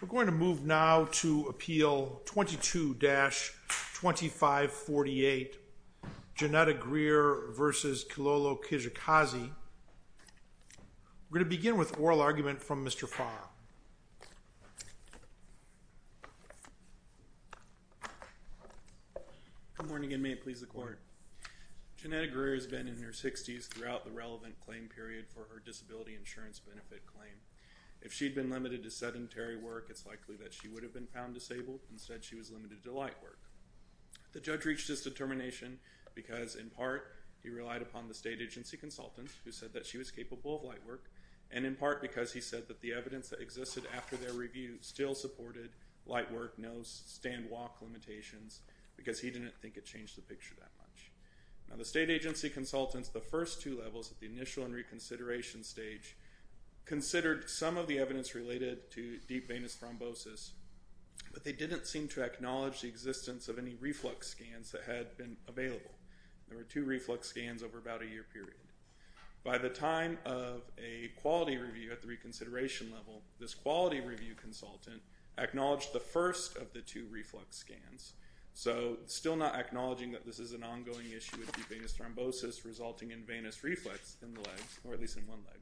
We're going to move now to appeal 22-2548 Genetta Greer v. Kilolo Kijakazi. We're going to begin with oral argument from Mr. Farr. Good morning and may it please the court. Genetta Greer has been in her 60s throughout the relevant claim period for her disability insurance benefit claim. If she'd been limited to sedentary work, it's likely that she would have been found disabled. Instead, she was limited to light work. The judge reached his determination because, in part, he relied upon the state agency consultant who said that she was capable of light work, and in part because he said that the evidence that existed after their review still supported light work, no stand-walk limitations, because he didn't think it changed the picture that much. Now the state agency consultants, the first two levels at the initial and reconsideration stage, considered some of the evidence related to deep venous thrombosis, but they didn't seem to acknowledge the existence of any reflux scans that had been available. There were two reflux scans over about a year period. By the time of a quality review at the reconsideration level, this quality review consultant acknowledged the first of the two reflux scans. So still not acknowledging that this is an ongoing issue of deep venous thrombosis resulting in venous reflux in the legs, or at least in one leg.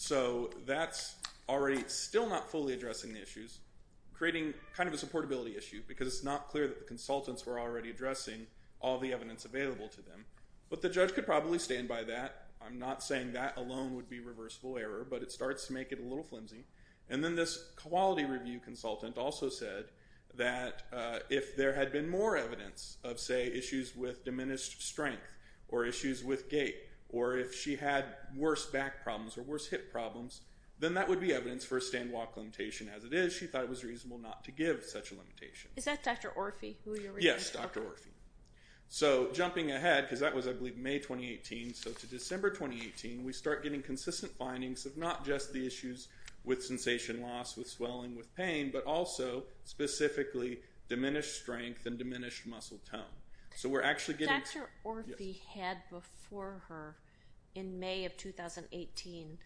So that's already still not fully addressing the issues, creating kind of a supportability issue, because it's not clear that the consultants were already addressing all the evidence available to them. But the judge could probably stand by that. I'm not saying that alone would be reversible error, but it starts to make it a little flimsy. And then this quality review consultant also said that if there had been more evidence of, say, issues with diminished strength, or issues with gait, or if she had worse back problems or worse hip problems, then that would be evidence for a stand-walk limitation. As it is, she thought it was reasonable not to give such a limitation. Is that Dr. Orfi? Yes, Dr. Orfi. So jumping ahead, because that was, I believe, May 2018, so to December 2018, we start getting issues with sensation loss, with swelling, with pain, but also specifically diminished strength and diminished muscle tone. So we're actually getting... Dr. Orfi had before her, in May of 2018,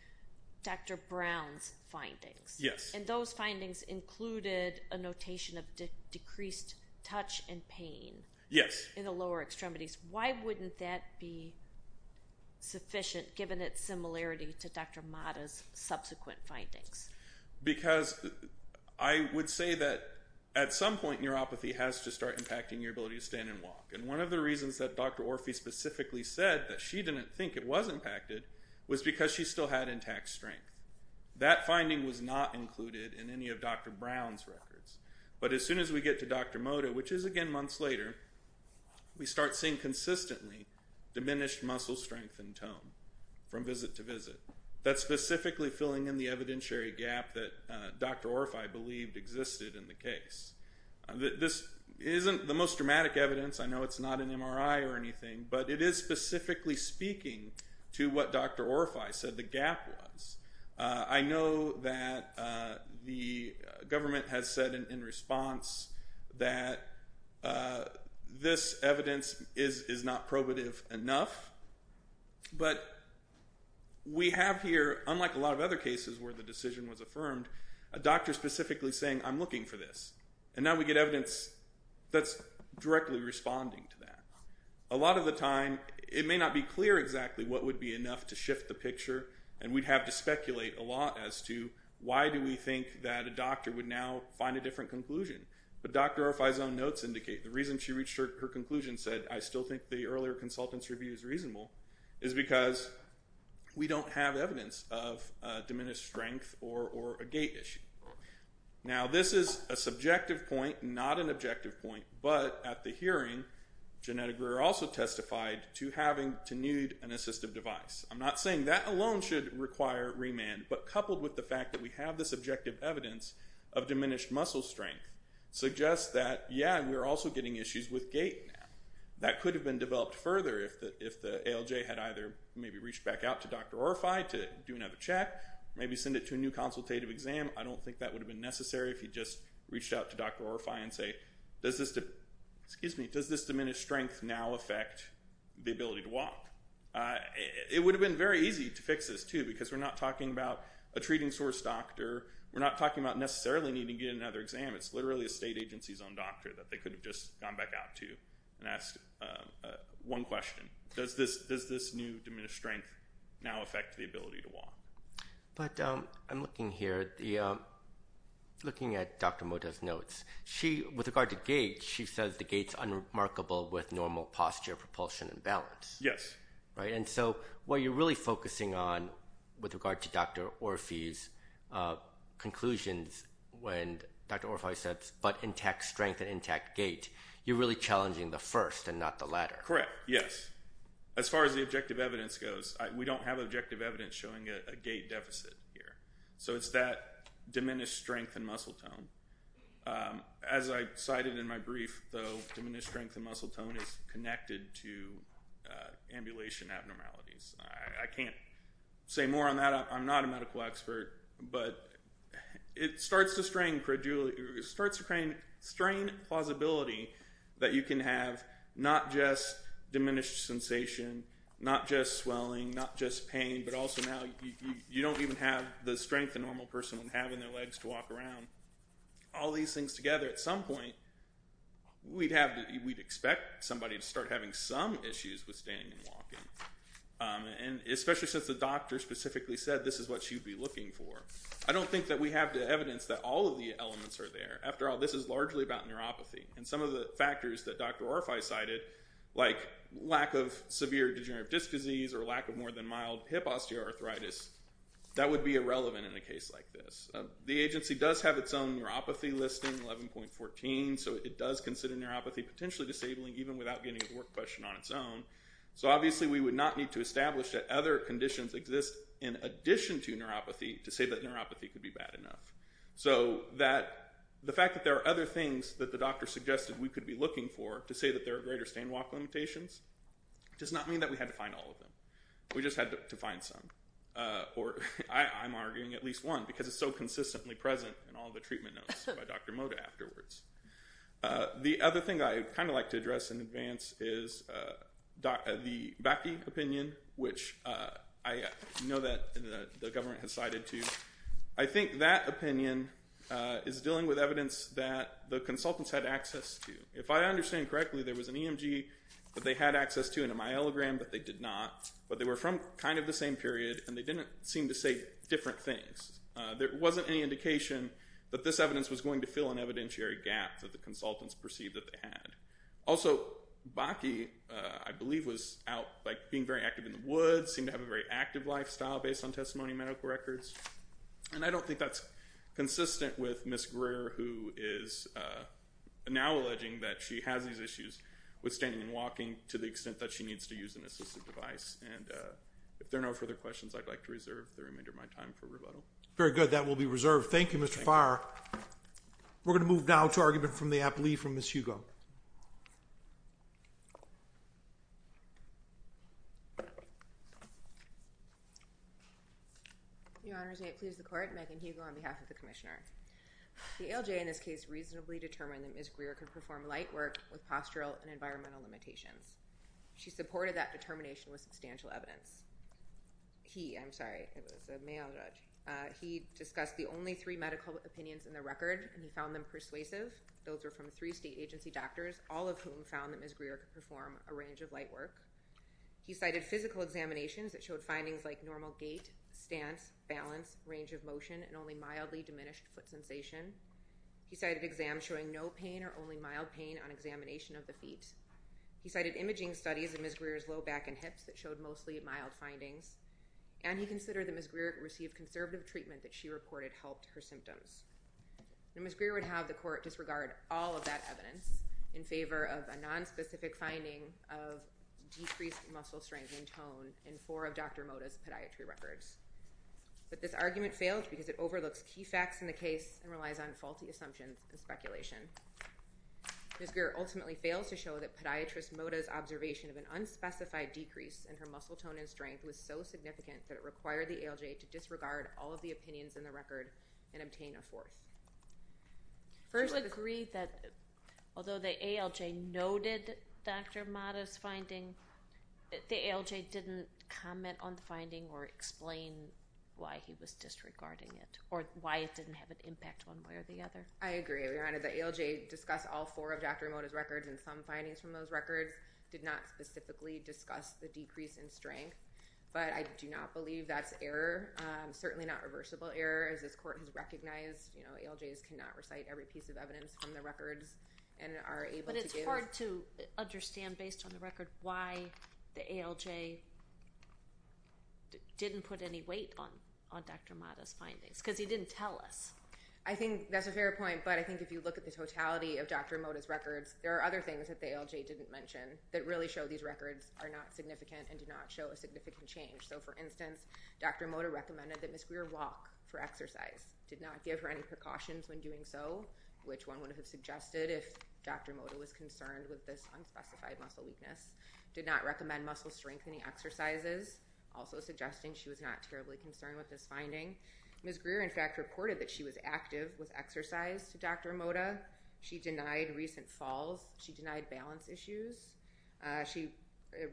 Dr. Brown's findings. Yes. And those findings included a notation of decreased touch and pain... Yes. ...in the lower extremities. Why wouldn't that be sufficient, given its similarity to Dr. Mata's subsequent findings? Because I would say that, at some point, neuropathy has to start impacting your ability to stand and walk. And one of the reasons that Dr. Orfi specifically said that she didn't think it was impacted was because she still had intact strength. That finding was not included in any of Dr. Brown's records. But as soon as we get to Dr. Mata, which is again months later, we start seeing consistently diminished muscle strength and tone from visit to visit. That's specifically filling in the evidentiary gap that Dr. Orfi believed existed in the case. This isn't the most dramatic evidence. I know it's not an MRI or anything, but it is specifically speaking to what Dr. Orfi said the gap was. I know that the government has said in response that this evidence is not probative enough. But we have here, unlike a lot of other cases where the decision was affirmed, a doctor specifically saying, I'm looking for this. And now we get evidence that's directly responding to that. A lot of the time, it may not be clear exactly what would be enough to shift the picture, and we'd have to speculate a lot as to why do we think that a doctor would now find a different conclusion. But Dr. Orfi's own notes indicate the reason she reached her conclusion said, I still think the earlier consultant's review is reasonable, is because we don't have evidence of diminished strength or a gait issue. Now, this is a subjective point, not an objective point. But at the hearing, Janetta Greer also testified to having to nude an assistive device. I'm not saying that alone should require remand. But coupled with the fact that we have this objective evidence of diminished muscle strength suggests that, yeah, we're also getting issues with gait now. That could have been developed further if the ALJ had either maybe reached back out to Dr. Orfi to do another check, maybe send it to a new consultative exam. I don't think that would have been necessary if he'd just reached out to Dr. Orfi and say, does this diminished strength now affect the ability to walk? It would have been very easy to fix this, too, because we're not talking about a treating source doctor. We're not talking about necessarily needing to get another exam. It's literally a state agency's own doctor that they could have just gone back out to and asked one question. Does this new diminished strength now affect the ability to walk? But I'm looking here at Dr. Moda's notes. With regard to gait, she says the gait's unremarkable with normal posture, propulsion, and balance. Yes. Right, and so what you're really focusing on with regard to Dr. Orfi's conclusions when Dr. Orfi says, but intact strength and intact gait, you're really challenging the first and not the latter. Correct, yes. As far as the objective evidence goes, we don't have objective evidence showing a gait deficit here. So it's that diminished strength and muscle tone. As I cited in my brief, though, diminished strength and muscle tone is connected to ambulation abnormalities. I can't say more on that. I'm not a medical expert. But it starts to strain plausibility that you can have not just diminished sensation, not just swelling, not just pain, but also now you don't even have the strength a normal person would have in their legs to walk around. All these things together, at some point, we'd expect somebody to start having some issues with standing and walking. And especially since the doctor specifically said this is what she'd be looking for. I don't think that we have the evidence that all of the elements are there. After all, this is largely about neuropathy. And some of the factors that Dr. Orfi cited, like lack of severe degenerative disc disease or lack of more than mild hip osteoarthritis, that would be irrelevant in a case like this. The agency does have its own neuropathy listing, 11.14. So it does consider neuropathy potentially disabling, even without getting to the work question on its own. So obviously we would not need to establish that other conditions exist in addition to neuropathy to say that neuropathy could be bad enough. So the fact that there are other things that the doctor suggested we could be looking for to say that there are greater standing and walking limitations does not mean that we had to find all of them. We just had to find some. Or I'm arguing at least one, because it's so consistently present in all the treatment notes by Dr. Mota afterwards. The other thing I'd kind of like to address in advance is the Bakke opinion, which I know that the government has cited too. I think that opinion is dealing with evidence that the consultants had access to. If I understand correctly, there was an EMG that they had access to and a myelogram that they did not. But they were from kind of the same period, and they didn't seem to say different things. There wasn't any indication that this evidence was going to fill an evidentiary gap that the consultants perceived that they had. Also, Bakke, I believe, was out being very active in the woods, seemed to have a very active lifestyle based on testimony medical records. And I don't think that's consistent with Ms. Greer, who is now alleging that she has these issues with standing and walking to the extent that she needs to use an assistive device. And if there are no further questions, I'd like to reserve the remainder of my time for rebuttal. Very good. That will be reserved. Thank you, Mr. Farr. We're going to move now to argument from the appliee from Ms. Hugo. Your Honors, may it please the Court, Megan Hugo on behalf of the Commissioner. The ALJ in this case reasonably determined that Ms. Greer could perform light work with postural and environmental limitations. She supported that determination with substantial evidence. He, I'm sorry, it was a male judge. He discussed the only three medical opinions in the record, and he found them persuasive. Those were from three state agency doctors, all of whom found that Ms. Greer could perform a range of light work. He cited physical examinations that showed findings like normal gait, stance, balance, range of motion, and only mildly diminished foot sensation. He cited exams showing no pain or only mild pain on examination of the feet. He cited imaging studies in Ms. Greer's low back and hips that showed mostly mild findings. And he considered that Ms. Greer received conservative treatment that she reported helped her symptoms. Ms. Greer would have the Court disregard all of that evidence in favor of a nonspecific finding of decreased muscle strength and tone in four of Dr. Moda's podiatry records. But this argument failed because it overlooks key facts in the case and relies on faulty assumptions and speculation. Ms. Greer ultimately failed to show that podiatrist Moda's observation of an unspecified decrease in her muscle tone and strength was so significant that it required the ALJ to disregard all of the opinions in the record and obtain a fourth. First, I agree that although the ALJ noted Dr. Moda's finding, the ALJ didn't comment on the finding or explain why he was disregarding it or why it didn't have an impact one way or the other. I agree, Your Honor. The ALJ discussed all four of Dr. Moda's records and some findings from those records did not specifically discuss the decrease in strength, but I do not believe that's error. Certainly not reversible error as this court has recognized, you know, ALJs cannot recite every piece of evidence from the records and are able to give— But it's hard to understand based on the record why the ALJ didn't put any weight on Dr. Moda's findings because he didn't tell us. I think that's a fair point, but I think if you look at the totality of Dr. Moda's records, there are other things that the ALJ didn't mention that really show these records are not significant and do not show a significant change. So, for instance, Dr. Moda recommended that Ms. Greer walk for exercise, did not give her any precautions when doing so, which one would have suggested if Dr. Moda was concerned with this unspecified muscle weakness, did not recommend muscle strengthening exercises, also suggesting she was not terribly concerned with this finding. Ms. Greer, in fact, reported that she was active with exercise to Dr. Moda. She denied recent falls. She denied balance issues. She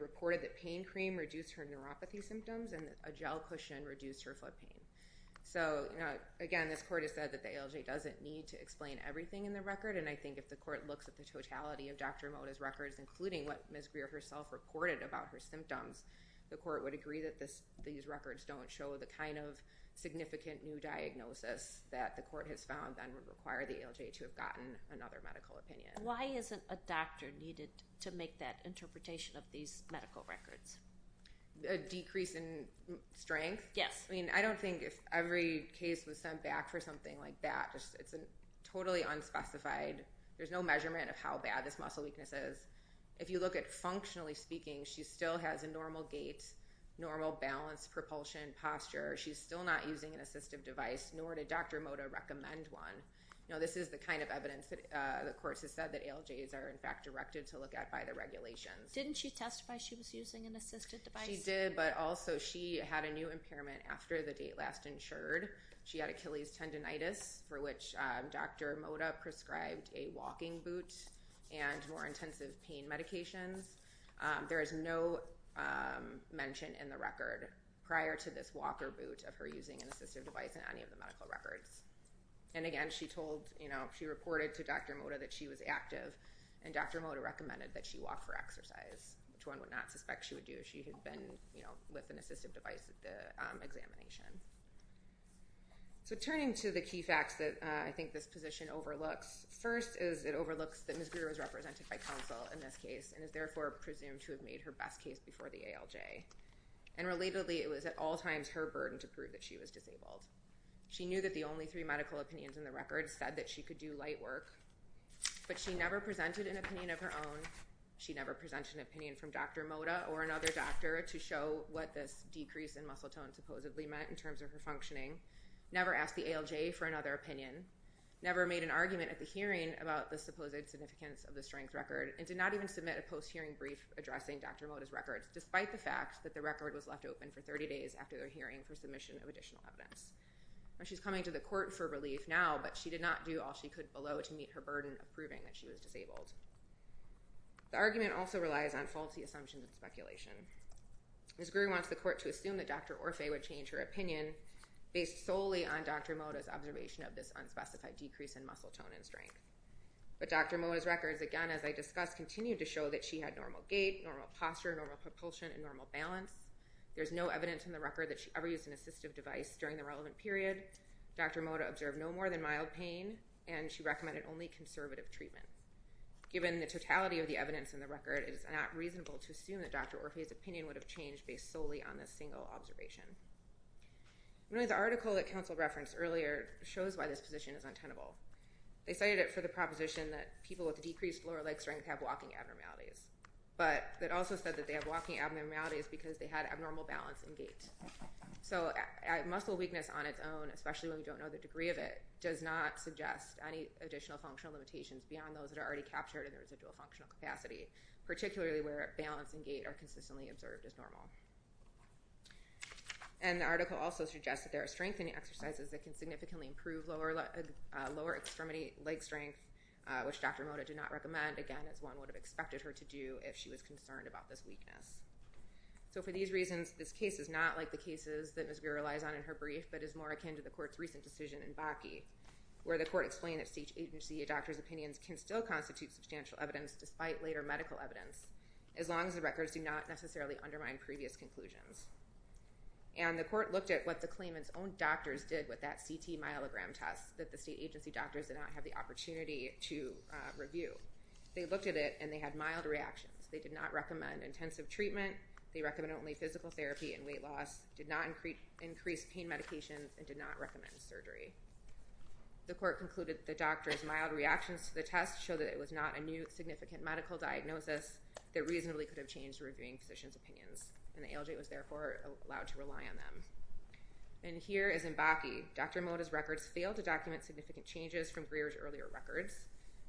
reported that pain cream reduced her neuropathy symptoms and that a gel cushion reduced her foot pain. So, again, this Court has said that the ALJ doesn't need to explain everything in the record, and I think if the Court looks at the totality of Dr. Moda's records, including what Ms. Greer herself reported about her symptoms, the Court would agree that these records don't show the kind of significant new diagnosis that the Court has found that would require the ALJ to have gotten another medical opinion. Why isn't a doctor needed to make that interpretation of these medical records? A decrease in strength? Yes. I mean, I don't think if every case was sent back for something like that. It's totally unspecified. There's no measurement of how bad this muscle weakness is. If you look at functionally speaking, she still has a normal gait, normal balance, propulsion, posture. She's still not using an assistive device, nor did Dr. Moda recommend one. You know, this is the kind of evidence that the Court has said that ALJs are, in fact, directed to look at by the regulations. Didn't she testify she was using an assistive device? She did, but also she had a new impairment after the date last insured. She had Achilles tendonitis, for which Dr. Moda prescribed a walking boot and more intensive pain medications. There is no mention in the record prior to this walker boot of her using an assistive device in any of the medical records. And again, she told, you know, she reported to Dr. Moda that she was active, and Dr. Moda recommended that she walk for exercise, which one would not suspect she would do if she had been, you know, with an assistive device at the examination. So turning to the key facts that I think this position overlooks, first is it overlooks that Ms. Greer was represented by counsel in this case and is therefore presumed to have made her best case before the ALJ. And relatedly, it was at all times her burden to prove that she was disabled. She knew that the only three medical opinions in the record said that she could do light work, but she never presented an opinion of her own. She never presented an opinion from Dr. Moda or another doctor to show what this decrease in muscle tone supposedly meant in terms of her functioning, never asked the ALJ for another opinion, never made an argument at the hearing about the supposed significance of the strength record, and did not even submit a post-hearing brief addressing Dr. Moda's records, despite the fact that the record was left open for 30 days after their hearing for submission of additional evidence. Now, she's coming to the court for relief now, but she did not do all she could below to meet her burden of proving that she was disabled. The argument also relies on faulty assumptions and speculation. Ms. Greer wants the court to assume that Dr. Orfeh would change her opinion based solely on Dr. Moda's observation of this unspecified decrease in muscle tone and strength. But Dr. Moda's records, again, as I discussed, continue to show that she had normal gait, normal posture, normal propulsion, and normal balance. There's no evidence in the record that she ever used an assistive device during the relevant period. Dr. Moda observed no more than mild pain, and she recommended only conservative treatments. Given the totality of the evidence in the record, it is not reasonable to assume that Dr. Orfeh's opinion would have changed based solely on this single observation. One of the articles that counsel referenced earlier shows why this position is untenable. They cited it for the proposition that people with decreased lower leg strength have walking abnormalities because they had abnormal balance and gait. So muscle weakness on its own, especially when we don't know the degree of it, does not suggest any additional functional limitations beyond those that are already captured in the residual functional capacity, particularly where balance and gait are consistently observed as normal. And the article also suggests that there are strengthening exercises that can significantly improve lower extremity leg strength, which Dr. Moda did not recommend, again, as one would have expected her to do if she was concerned about this weakness. So for these reasons, this case is not like the cases that Ms. Greer relies on in her brief, but is more akin to the court's recent decision in Bakke, where the court explained that state agency doctors' opinions can still constitute substantial evidence despite later medical evidence, as long as the records do not necessarily undermine previous conclusions. And the court looked at what the claimant's own doctors did with that CT myelogram test that the state agency doctors did not have the opportunity to review. They looked at it, and they had mild reactions. They did not recommend intensive treatment. They recommended only physical therapy and weight loss, did not increase pain medication, and did not recommend surgery. The court concluded that the doctors' mild reactions to the test showed that it was not a new significant medical diagnosis that reasonably could have changed reviewing physicians' opinions, and the ALJ was therefore allowed to rely on them. And here is in Bakke. Dr. Moda's records failed to document significant changes from Greer's earlier records.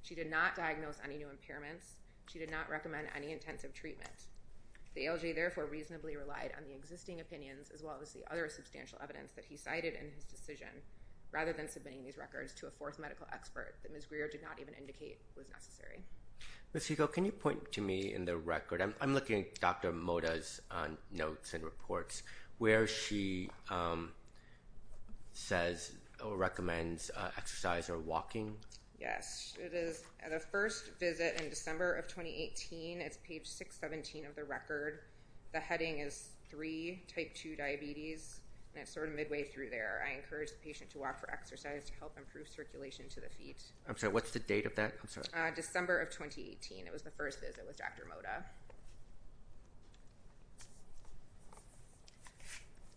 She did not diagnose any new impairments. She did not recommend any intensive treatment. The ALJ therefore reasonably relied on the existing opinions, as well as the other substantial evidence that he cited in his decision, rather than submitting these records to a fourth medical expert that Ms. Greer did not even indicate was necessary. Ms. Hugo, can you point to me in the record? I'm looking at Dr. Moda's notes and reports where she says or recommends exercise or walking. Yes. It is the first visit in December of 2018. It's page 617 of the record. The heading is 3, type 2 diabetes, and it's sort of midway through there. I encourage the patient to walk for exercise to help improve circulation to the feet. I'm sorry. What's the date of that? I'm sorry. December of 2018. It was the first visit with Dr. Moda.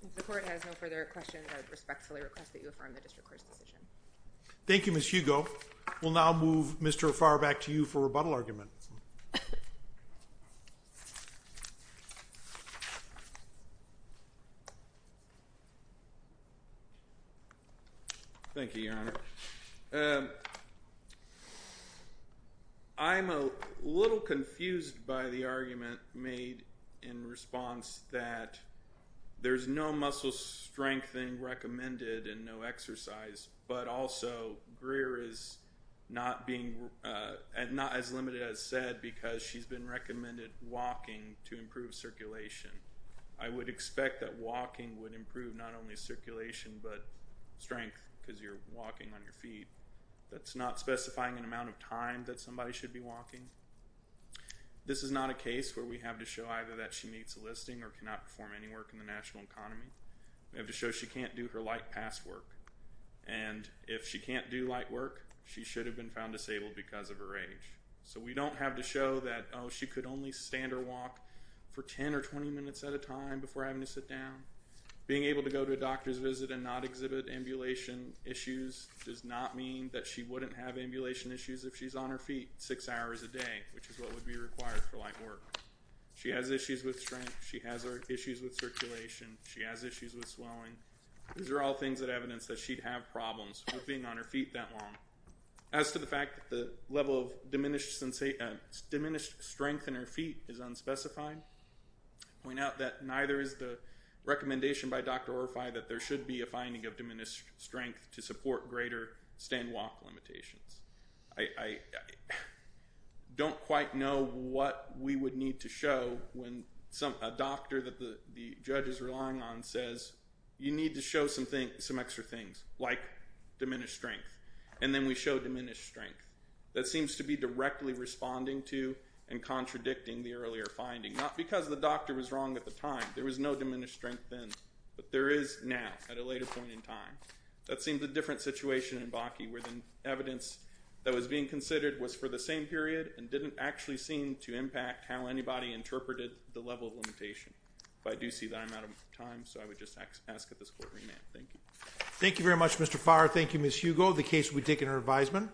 If the court has no further questions, I respectfully request that you affirm the district court's decision. Thank you, Ms. Hugo. We'll now move Mr. Farback to you for rebuttal argument. Thank you, Your Honor. I'm a little confused by the argument made in response that there's no muscle strength or anything recommended and no exercise, but also Greer is not as limited as said because she's been recommended walking to improve circulation. I would expect that walking would improve not only circulation but strength because you're walking on your feet. That's not specifying an amount of time that somebody should be walking. This is not a case where we have to show either that she meets a listing or cannot perform any work in the national economy. We have to show she can't do her light past work. And if she can't do light work, she should have been found disabled because of her age. So we don't have to show that, oh, she could only stand or walk for 10 or 20 minutes at a time before having to sit down. Being able to go to a doctor's visit and not exhibit ambulation issues does not mean that she wouldn't have ambulation issues if she's on her feet six hours a day, which is what would be required for light work. She has issues with strength. She has issues with circulation. She has issues with swelling. These are all things that evidence that she'd have problems with being on her feet that long. As to the fact that the level of diminished strength in her feet is unspecified, I point out that neither is the recommendation by Dr. Orfi that there should be a finding of diminished strength to support greater stand-walk limitations. I don't quite know what we would need to show when a doctor that the judge is relying on says, you need to show some extra things, like diminished strength. And then we show diminished strength. That seems to be directly responding to and contradicting the earlier finding, not because the doctor was wrong at the time. There was no diminished strength then. But there is now at a later point in time. That seems a different situation in Bakke, where the evidence that was being considered was for the same period and didn't actually seem to impact how anybody interpreted the level of limitation. But I do see that I'm out of time, so I would just ask that this court remand. Thank you. Thank you very much, Mr. Farr. Thank you, Ms. Hugo. The case would be taken under advisement.